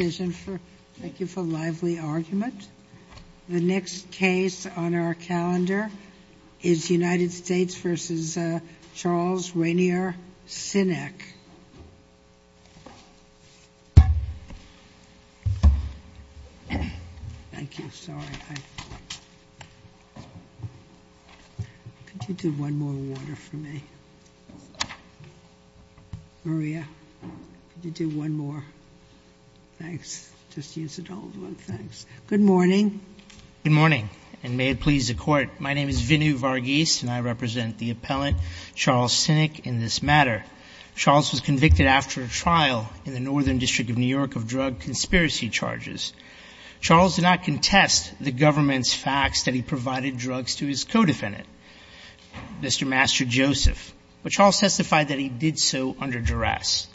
Thank you for a lively argument. The next case on our calendar is United States v. Charles Rainier Sinek. Good morning, and may it please the Court. My name is Vinu Varghese, and I represent the appellant, Charles Sinek, in this matter. Charles was convicted after a trial in the Northern District of New York of drug conspiracy charges. Charles did not contest the government's facts that he provided drugs to his co-defendant, Mr. Master Joseph, but Charles testified that he did so under duress.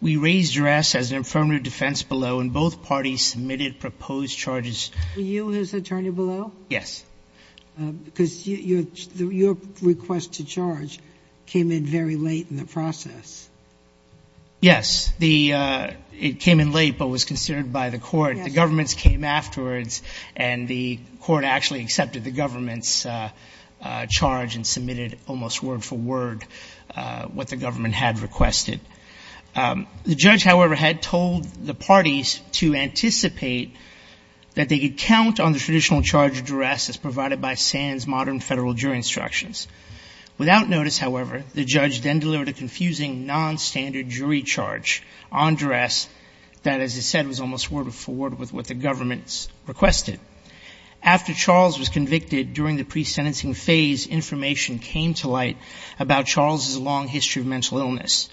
We raised duress as an affirmative defense below, and both parties submitted proposed charges. Were you his attorney below? Yes. Because your request to charge came in very late in the process. Yes. The — it came in late, but was considered by the Court. The government's came afterwards, and the Court actually accepted the government's charge and submitted almost word for word what the government had requested. The judge, however, had told the parties to anticipate that they could count on the traditional charge of duress as provided by Sands' modern federal jury instructions. Without notice, however, the judge then delivered a confusing nonstandard jury charge on duress that, as I said, was almost word for word with what the government's requested. After Charles was convicted, during the pre-sentencing phase, information came to light about Charles' long history of mental illness.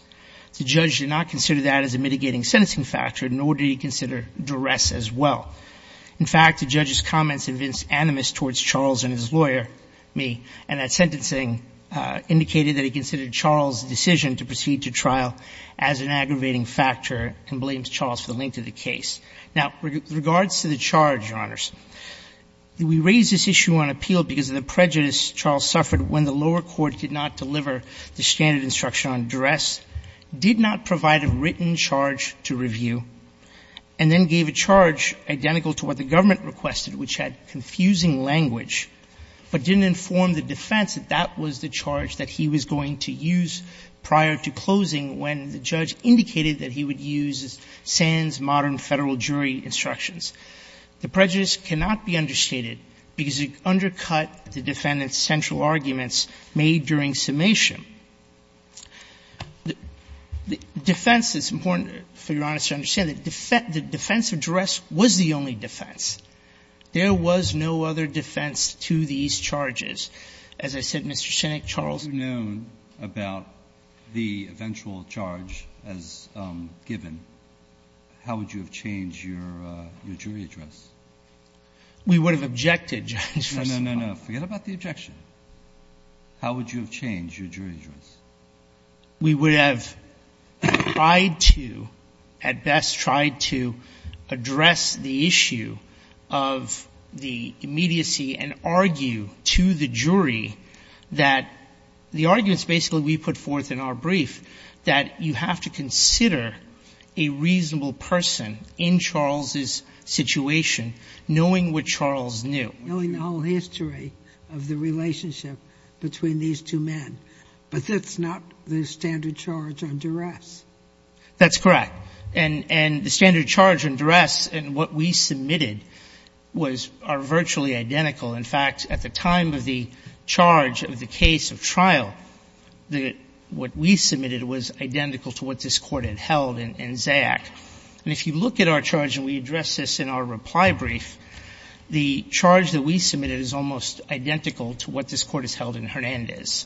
The judge did not consider that as a mitigating sentencing factor, nor did he consider duress as well. In fact, the judge's comments evinced animus towards Charles and his lawyer, me, and that sentencing indicated that he considered Charles' decision to proceed to trial as an aggravating factor and blamed Charles for the length of the case. Now, with regards to the charge, Your Honors, we raised this issue on appeal because of the prejudice Charles suffered when the lower court could not deliver the standard instruction on duress, did not provide a written charge to review, and then gave a charge identical to what the government requested, which had confusing language, but didn't inform the defense that that was the charge that he was going to use prior to closing when the judge indicated that he would use Sands' modern federal jury instructions. The prejudice cannot be understated because it undercut the defendant's central arguments made during summation. Defense is important for Your Honors to understand that defense of duress was the only defense. There was no other defense to these charges. As I said, Mr. Sinek, Charles' case was not a case of duress. Breyer. Had you known about the eventual charge as given, how would you have changed your jury address? We would have objected, Your Honors, first of all. No, no, no. Forget about the objection. How would you have changed your jury address? We would have tried to, at best, tried to address the issue of the immediacy and argue to the jury that the arguments basically we put forth in our brief, that you have to consider a reasonable person in Charles' situation, knowing what Charles knew. Knowing the whole history of the relationship between these two men. But that's not the standard charge on duress. That's correct. And the standard charge on duress and what we submitted are virtually identical. In fact, at the time of the charge of the case of trial, what we submitted was identical to what this Court had held in Zayac. And if you look at our charge and we address this in our reply brief, the charge that we submitted is almost identical to what this Court has held in Hernandez.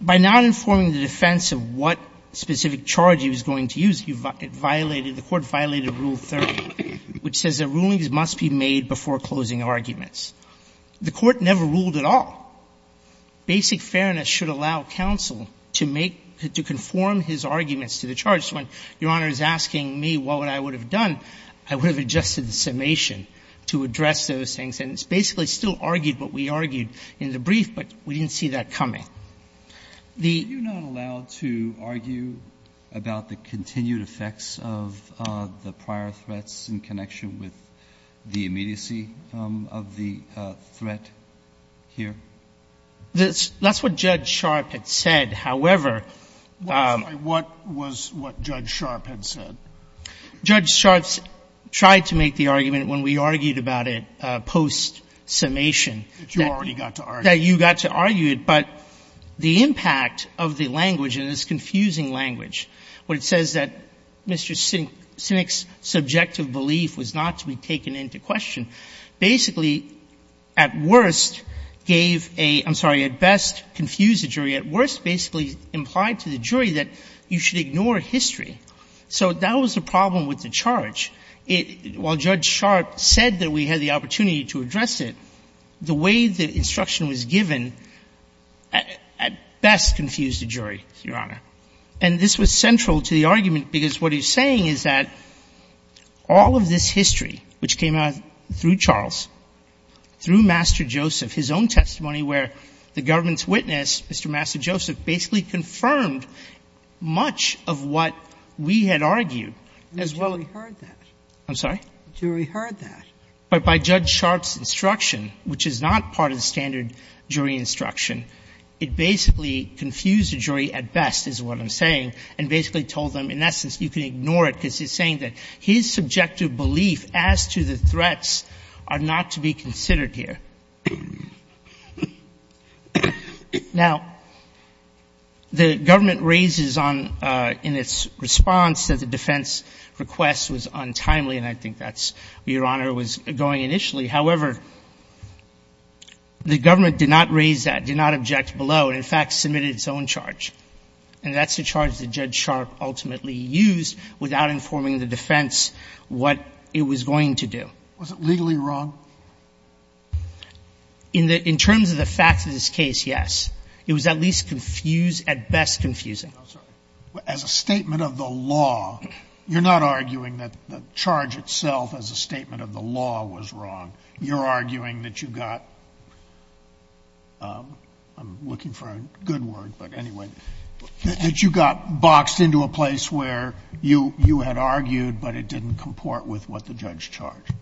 By not informing the defense of what specific charge he was going to use, it violated the Court violated Rule 30, which says that rulings must be made before closing arguments. The Court never ruled at all. Basic fairness should allow counsel to make, to conform his arguments to the charge. When Your Honor is asking me what I would have done, I would have adjusted the summation to address those things. And it's basically still argued what we argued in the brief, but we didn't see that coming. The ---- Roberts, are you not allowed to argue about the continued effects of the prior threats in connection with the immediacy of the threat here? That's what Judge Sharp had said. However ---- What was what Judge Sharp had said? Judge Sharp tried to make the argument when we argued about it post-summation that you got to argue it. But the impact of the language, and it's confusing language, where it says that Mr. Sinek's subjective belief was not to be taken into question, basically, at worst, gave a ---- I'm sorry, at best, confused the jury, at worst, basically, implied to the jury that you should ignore history. So that was the problem with the charge. While Judge Sharp said that we had the opportunity to address it, the way the instruction was given at best confused the jury, Your Honor. And this was central to the argument, because what he's saying is that all of this is his own testimony, where the government's witness, Mr. Massa-Joseph, basically confirmed much of what we had argued, as well as ---- And the jury heard that. I'm sorry? The jury heard that. But by Judge Sharp's instruction, which is not part of the standard jury instruction, it basically confused the jury at best, is what I'm saying, and basically told them, in essence, you can ignore it, because he's saying that his subjective belief as to the threats are not to be considered here. Now, the government raises on, in its response, that the defense request was untimely, and I think that's where Your Honor was going initially. However, the government did not raise that, did not object below, and in fact submitted its own charge. And that's the charge that Judge Sharp ultimately used without informing the defense what it was going to do. Was it legally wrong? In the ---- in terms of the facts of this case, yes. It was at least confused, at best confusing. I'm sorry. As a statement of the law, you're not arguing that the charge itself as a statement of the law was wrong. You're arguing that you got ---- I'm looking for a good word, but anyway ---- that you got boxed into a place where you had argued, but it didn't comport with what the judge charged.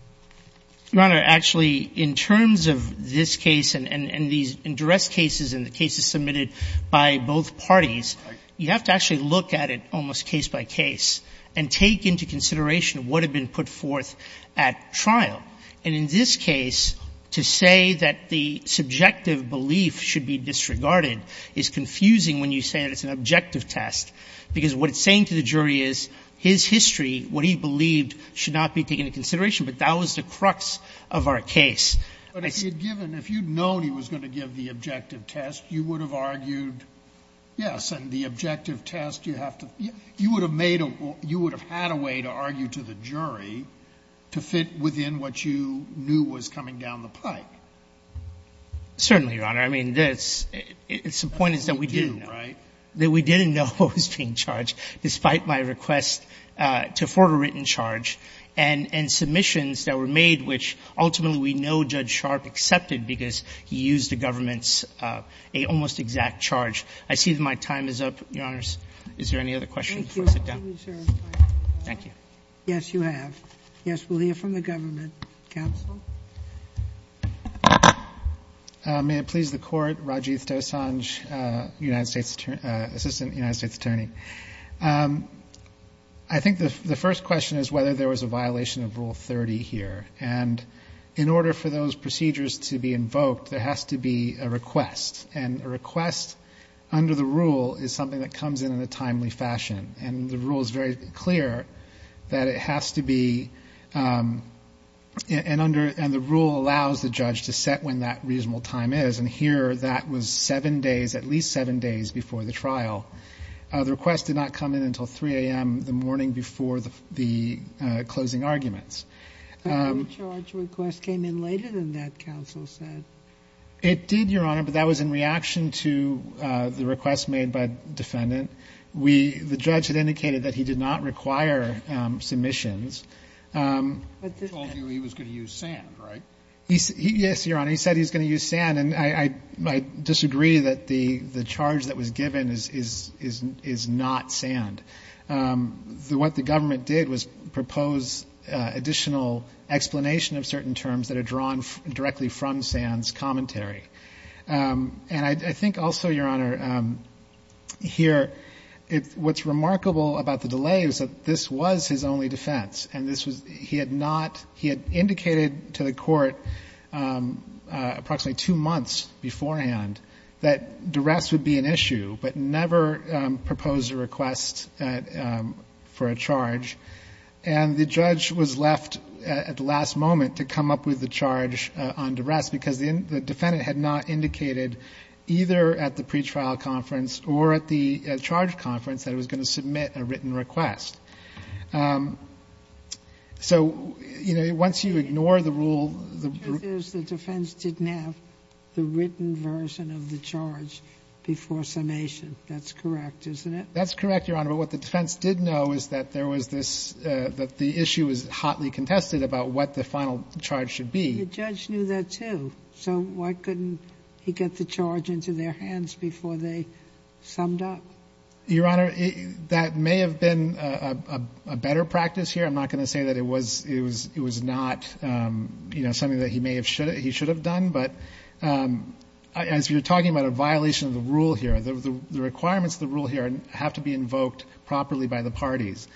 Your Honor, actually, in terms of this case and these undressed cases and the cases submitted by both parties, you have to actually look at it almost case by case and take into consideration what had been put forth at trial. And in this case, to say that the subjective belief should be disregarded is confusing when you say that it's an objective test, because what it's saying to the jury is his history, what he believed, should not be taken into consideration, but that was the crux of our case. But if he had given, if you'd known he was going to give the objective test, you would have argued, yes, and the objective test you have to ---- you would have made a ---- you would have had a way to argue to the jury to fit within what you knew was coming down the pike. Certainly, Your Honor. I mean, it's the point is that we didn't know, right, that we didn't know what was being charged, despite my request to afford a written charge, and submissions that were made, which ultimately we know Judge Sharp accepted because he used the government's almost exact charge. I see that my time is up, Your Honors. Is there any other questions before I sit down? Thank you, Your Honor. Thank you. Yes, you have. Yes, we'll hear from the government. Counsel? May it please the Court? Rajiv Dosanjh, Assistant United States Attorney. I think the first question is whether there was a violation of Rule 30 here. And in order for those procedures to be invoked, there has to be a request. And a request under the rule is something that comes in in a timely fashion. And the rule is very clear that it has to be, and the rule allows the judge to set when that reasonable time is, and here that was seven days, at least seven days before the trial. The request did not come in until 3 a.m. the morning before the closing arguments. But no charge request came in later than that, counsel said. It did, Your Honor, but that was in reaction to the request made by the defendant. We, the judge had indicated that he did not require submissions. He told you he was going to use sand, right? Yes, Your Honor. He said he was going to use sand. And I disagree that the charge that was given is not sand. What the government did was propose additional explanation of certain terms that are drawn directly from sand's commentary. And I think also, Your Honor, here what's remarkable about the delay is that this was his only defense, and this was, he had not, he had indicated to the court approximately two months beforehand that duress would be an issue, but never proposed a request for a charge. And the judge was left at the last moment to come up with the charge on duress because the defendant had not indicated, either at the pretrial conference or at the charge conference, that he was going to submit a written request. So, you know, once you ignore the rule, the rule. The truth is the defense didn't have the written version of the charge before summation. That's correct, isn't it? That's correct, Your Honor. But what the defense did know is that there was this, that the issue was hotly contested about what the final charge should be. And the judge knew that, too. So why couldn't he get the charge into their hands before they summed up? Your Honor, that may have been a better practice here. I'm not going to say that it was, it was not, you know, something that he may have should have, he should have done. But as you're talking about a violation of the rule here, the requirements of the rule here have to be invoked properly by the parties.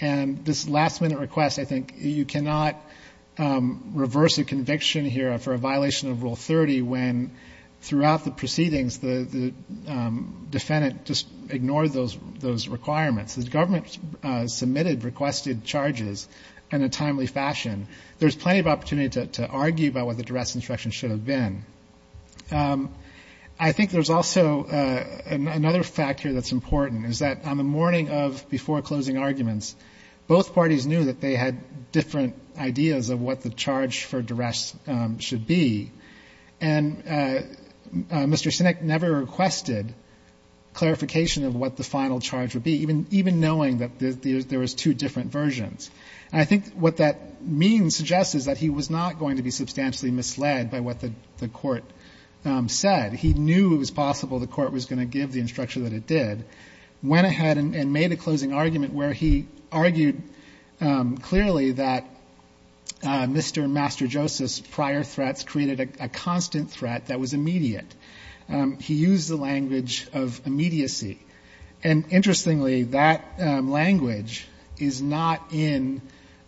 And this last-minute request, I think you cannot reverse a conviction here for a violation of Rule 30 when throughout the proceedings the defendant just ignored those requirements. The government submitted requested charges in a timely fashion. There's plenty of opportunity to argue about what the duress instruction should have been. I think there's also another fact here that's important, is that on the morning of before-closing arguments, both parties knew that they had different ideas of what the charge for duress should be. And Mr. Sinek never requested clarification of what the final charge would be, even knowing that there was two different versions. And I think what that means, suggests, is that he was not going to be substantially misled by what the court said. He knew it was possible the court was going to give the instruction that it did, but went ahead and made a closing argument where he argued clearly that Mr. Masterjoseph's prior threats created a constant threat that was immediate. He used the language of immediacy. And interestingly, that language is not in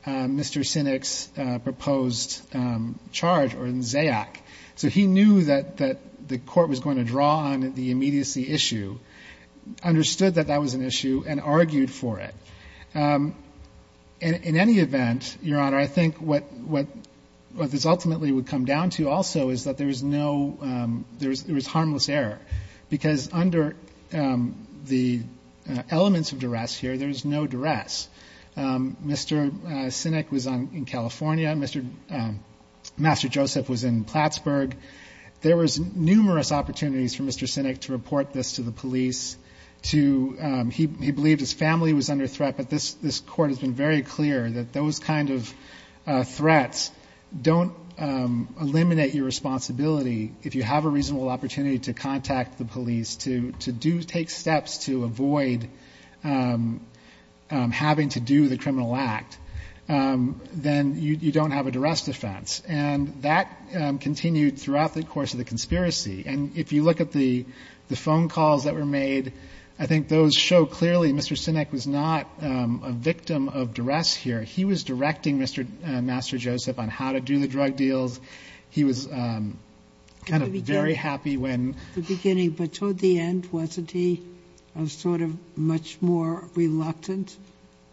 Mr. Sinek's proposed charge or in Zayach. So he knew that the court was going to draw on the immediacy issue, understood that that was an issue, and argued for it. In any event, Your Honor, I think what this ultimately would come down to also is that there was harmless error. Because under the elements of duress here, there's no duress. Mr. Sinek was in California. Mr. Masterjoseph was in Plattsburgh. There was numerous opportunities for Mr. Sinek to report this to the police. He believed his family was under threat. But this court has been very clear that those kind of threats don't eliminate your responsibility. If you have a reasonable opportunity to contact the police, to take steps to avoid having to do the criminal act, then you don't have a duress defense. And that continued throughout the course of the conspiracy. And if you look at the phone calls that were made, I think those show clearly Mr. Sinek was not a victim of duress here. He was directing Mr. Masterjoseph on how to do the drug deals. He was kind of very happy when ---- Was he much more reluctant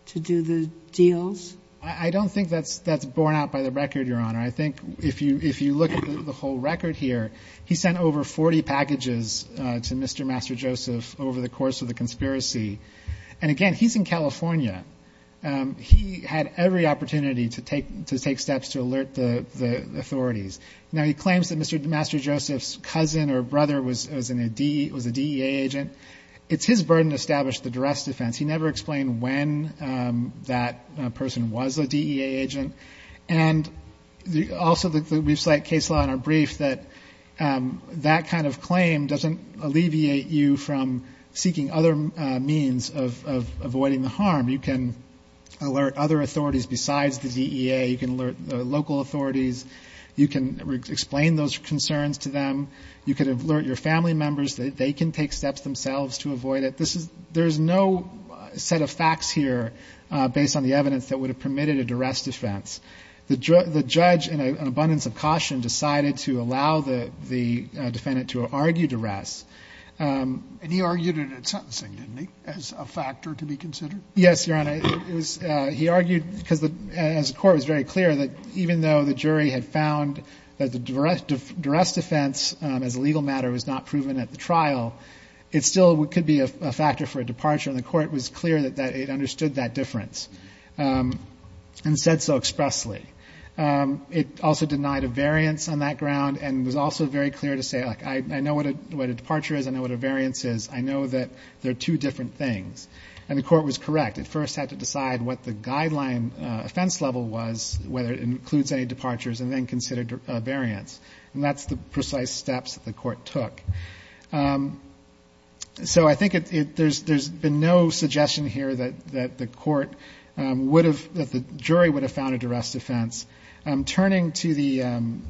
to do the deals? I don't think that's borne out by the record, Your Honor. I think if you look at the whole record here, he sent over 40 packages to Mr. Masterjoseph over the course of the conspiracy. And again, he's in California. He had every opportunity to take steps to alert the authorities. Now, he claims that Mr. Masterjoseph's cousin or brother was a DEA agent. It's his burden to establish the duress defense. He never explained when that person was a DEA agent. And also we cite case law in our brief that that kind of claim doesn't alleviate you from seeking other means of avoiding the harm. You can alert other authorities besides the DEA. You can alert local authorities. You can explain those concerns to them. You could alert your family members. They can take steps themselves to avoid it. This is ---- there is no set of facts here based on the evidence that would have permitted a duress defense. The judge, in an abundance of caution, decided to allow the defendant to argue duress. And he argued it at sentencing, didn't he, as a factor to be considered? Yes, Your Honor. He argued because the court was very clear that even though the jury had found that the duress defense as a legal matter was not proven at the trial, it still could be a factor for a departure. And the court was clear that it understood that difference and said so expressly. It also denied a variance on that ground and was also very clear to say, like, I know what a departure is. I know what a variance is. I know that they're two different things. And the court was correct. It first had to decide what the guideline offense level was, whether it includes any departures, and then consider a variance. And that's the precise steps that the court took. So I think there's been no suggestion here that the court would have ---- that the jury would have found a duress defense. Turning to the ----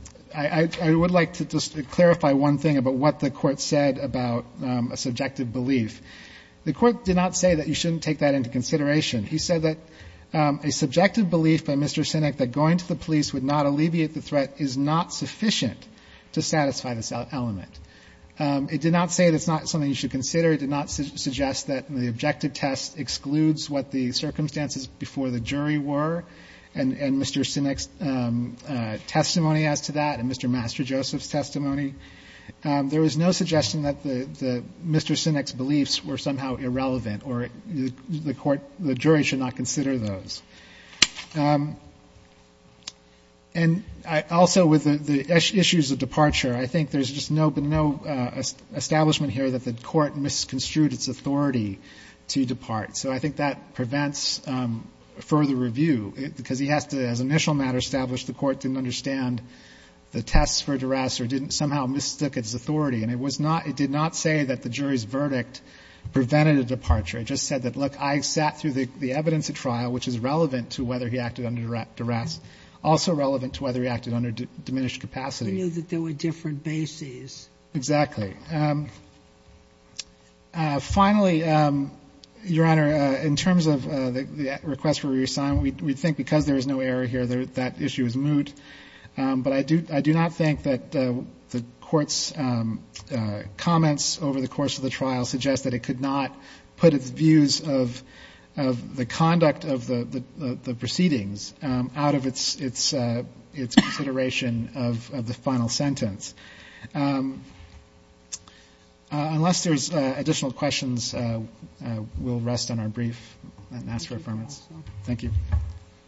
I would like to just clarify one thing about what the court said about a subjective belief. The court did not say that you shouldn't take that into consideration. He said that a subjective belief by Mr. Sinek that going to the police would not alleviate the threat is not sufficient to satisfy this element. It did not say that it's not something you should consider. It did not suggest that the objective test excludes what the circumstances before the jury were, and Mr. Sinek's testimony as to that and Mr. MasterJoseph's testimony. There was no suggestion that Mr. Sinek's beliefs were somehow irrelevant or the court ---- the jury should not consider those. And also with the issues of departure, I think there's just been no establishment here that the court misconstrued its authority to depart. So I think that prevents further review because he has to, as an initial matter established, the court didn't understand the tests for duress or didn't somehow mistook its authority. And it was not ---- it did not say that the jury's verdict prevented a departure. It just said that, look, I sat through the evidence at trial, which is relevant to whether he acted under duress, also relevant to whether he acted under diminished capacity. Sotomayor, we knew that there were different bases. Exactly. Finally, Your Honor, in terms of the request for reassignment, we think because there is no error here, that issue is moot. But I do not think that the Court's comments over the course of the trial suggest that it could not put its views of the conduct of the proceedings out of its consideration of the final sentence. Unless there's additional questions, we'll rest on our brief and ask for affirmation. Thank you.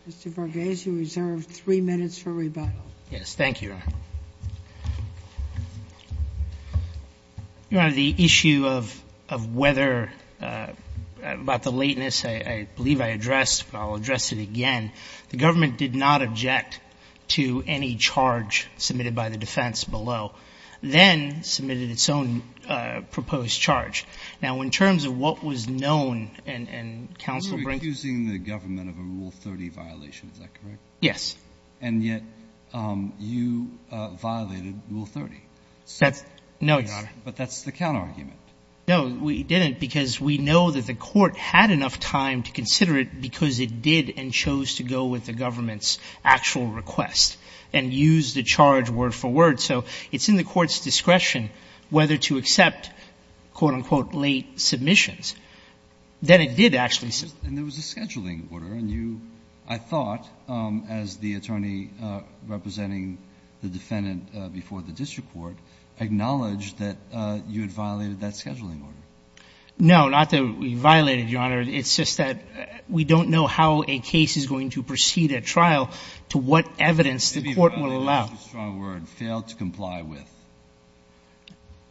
Mr. Vargas, you reserve three minutes for rebuttal. Yes. Thank you, Your Honor. Your Honor, the issue of whether, about the lateness, I believe I addressed, but I'll address it again. The government did not object to any charge submitted by the defense below, then submitted its own proposed charge. Now, in terms of what was known and counsel ---- You're accusing the government of a Rule 30 violation. Is that correct? Yes. And yet you violated Rule 30. No, Your Honor. But that's the counterargument. No, we didn't, because we know that the Court had enough time to consider it because it did and chose to go with the government's actual request and use the charge word for word. So it's in the Court's discretion whether to accept, quote, unquote, late submissions. Then it did actually ---- And there was a scheduling order. And you, I thought, as the attorney representing the defendant before the district court, acknowledged that you had violated that scheduling order. No, not that we violated, Your Honor. It's just that we don't know how a case is going to proceed at trial to what evidence the Court would allow. Maybe violated is a strong word. Failed to comply with.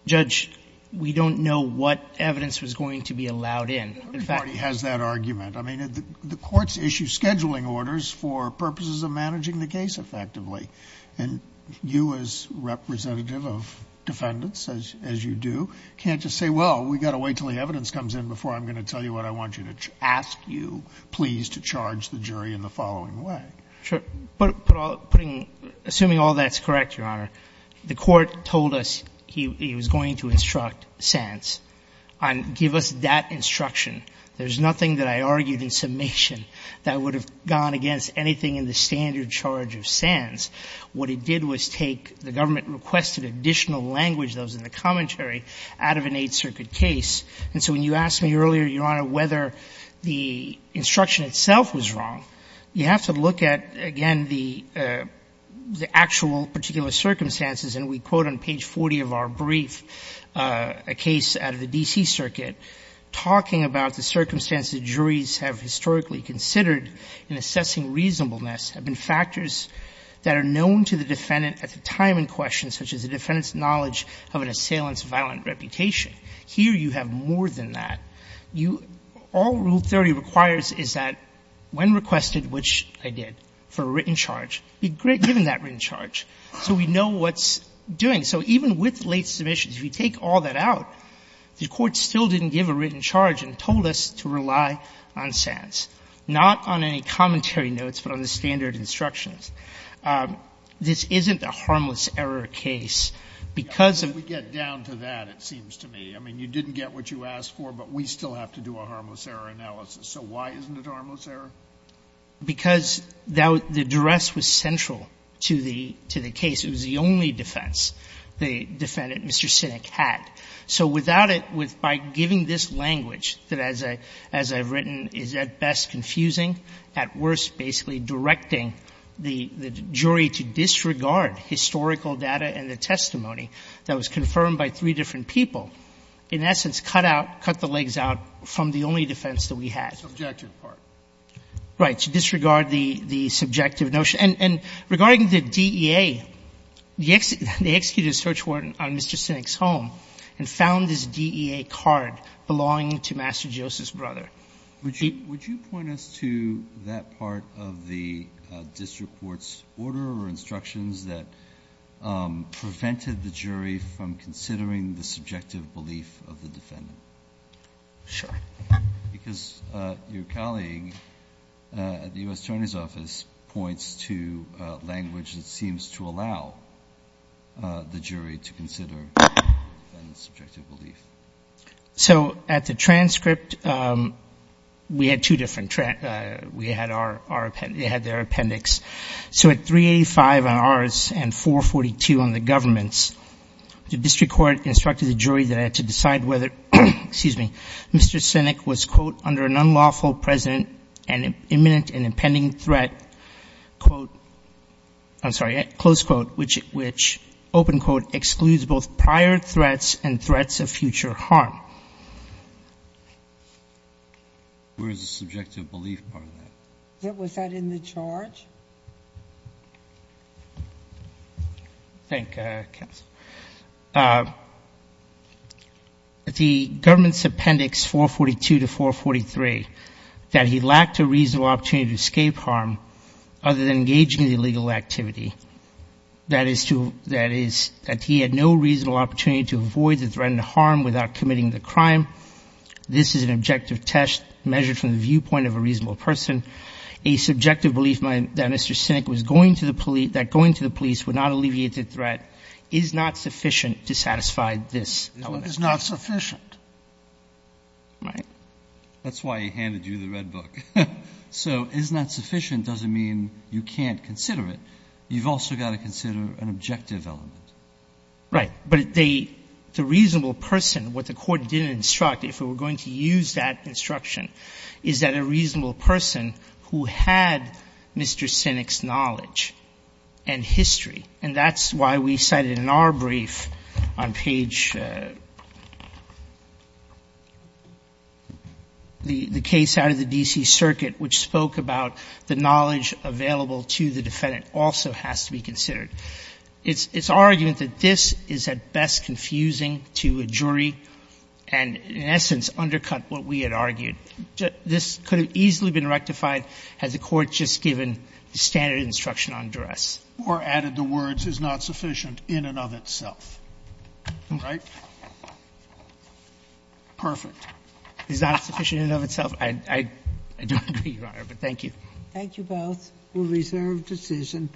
Judge, we don't know what evidence was going to be allowed in. In fact ---- Everybody has that argument. I mean, the Court's issued scheduling orders for purposes of managing the case effectively. And you, as representative of defendants, as you do, can't just say, well, we've got to wait until the evidence comes in before I'm going to tell you what I want you to ask you, please, to charge the jury in the following way. Sure. Assuming all that's correct, Your Honor, the Court told us he was going to instruct Sands and give us that instruction. There's nothing that I argued in summation that would have gone against anything in the standard charge of Sands. What it did was take the government-requested additional language that was in the commentary out of an Eighth Circuit case. And so when you asked me earlier, Your Honor, whether the instruction itself was wrong, you have to look at, again, the actual particular circumstances. And we quote on page 40 of our brief, a case out of the D.C. Circuit, talking about the circumstances juries have historically considered in assessing reasonableness have been factors that are known to the defendant at the time in question, such as the defendant's knowledge of an assailant's violent reputation. Here you have more than that. All Rule 30 requires is that when requested, which I did, for a written charge, be given that written charge so we know what's doing. So even with late submissions, if you take all that out, the Court still didn't give a written charge and told us to rely on Sands, not on any commentary notes, but on the standard instructions. This isn't a harmless error case because of the fact that Sands is not a harmless error case. We still have to do a harmless error analysis. So why isn't it a harmless error? Because the duress was central to the case. It was the only defense the defendant, Mr. Sinek, had. So without it, with by giving this language that, as I've written, is at best confusing, at worst basically directing the jury to disregard historical data and the testimony that was confirmed by three different people, in essence, cut out, cut the legs out from the only defense that we had. Breyer, subjective part. Right. To disregard the subjective notion. And regarding the DEA, they executed a search warrant on Mr. Sinek's home and found this DEA card belonging to Master Joseph's brother. So at the transcript, we had two different, we had our appendix, they had their appendix. So at 385 on ours and 442 on the government's, the district court instructed the jury that had to decide whether, excuse me, Mr. Sinek was, quote, under an unlawful president and imminent and impending threat, quote, I'm sorry, close quote, which, open quote, excludes both prior threats and threats of future harm. Where is the subjective belief part of that? Was that in the charge? Thank you, counsel. The government's appendix 442 to 443, that he lacked a reasonable opportunity to escape harm other than engaging in illegal activity. That is to, that is, that he had no reasonable opportunity to avoid the threat and harm without committing the crime. This is an objective test measured from the viewpoint of a reasonable person. A subjective belief that Mr. Sinek was going to the police, that going to the police would not alleviate the threat is not sufficient to satisfy this element. It is not sufficient. Right. That's why he handed you the red book. So is not sufficient doesn't mean you can't consider it. You've also got to consider an objective element. Right. But they, the reasonable person, what the Court didn't instruct, if it were going to use that instruction, is that a reasonable person who had Mr. Sinek's knowledge and history, and that's why we cited in our brief on page, the case out of the D.C. Circuit, which spoke about the knowledge available to the defendant also has to be considered. It's our argument that this is at best confusing to a jury and, in essence, undercut what we had argued. This could have easily been rectified had the Court just given the standard instruction on duress. Or added the words, is not sufficient in and of itself. Right? Perfect. Is not sufficient in and of itself. I don't agree, Your Honor, but thank you. Thank you both. We'll reserve decision.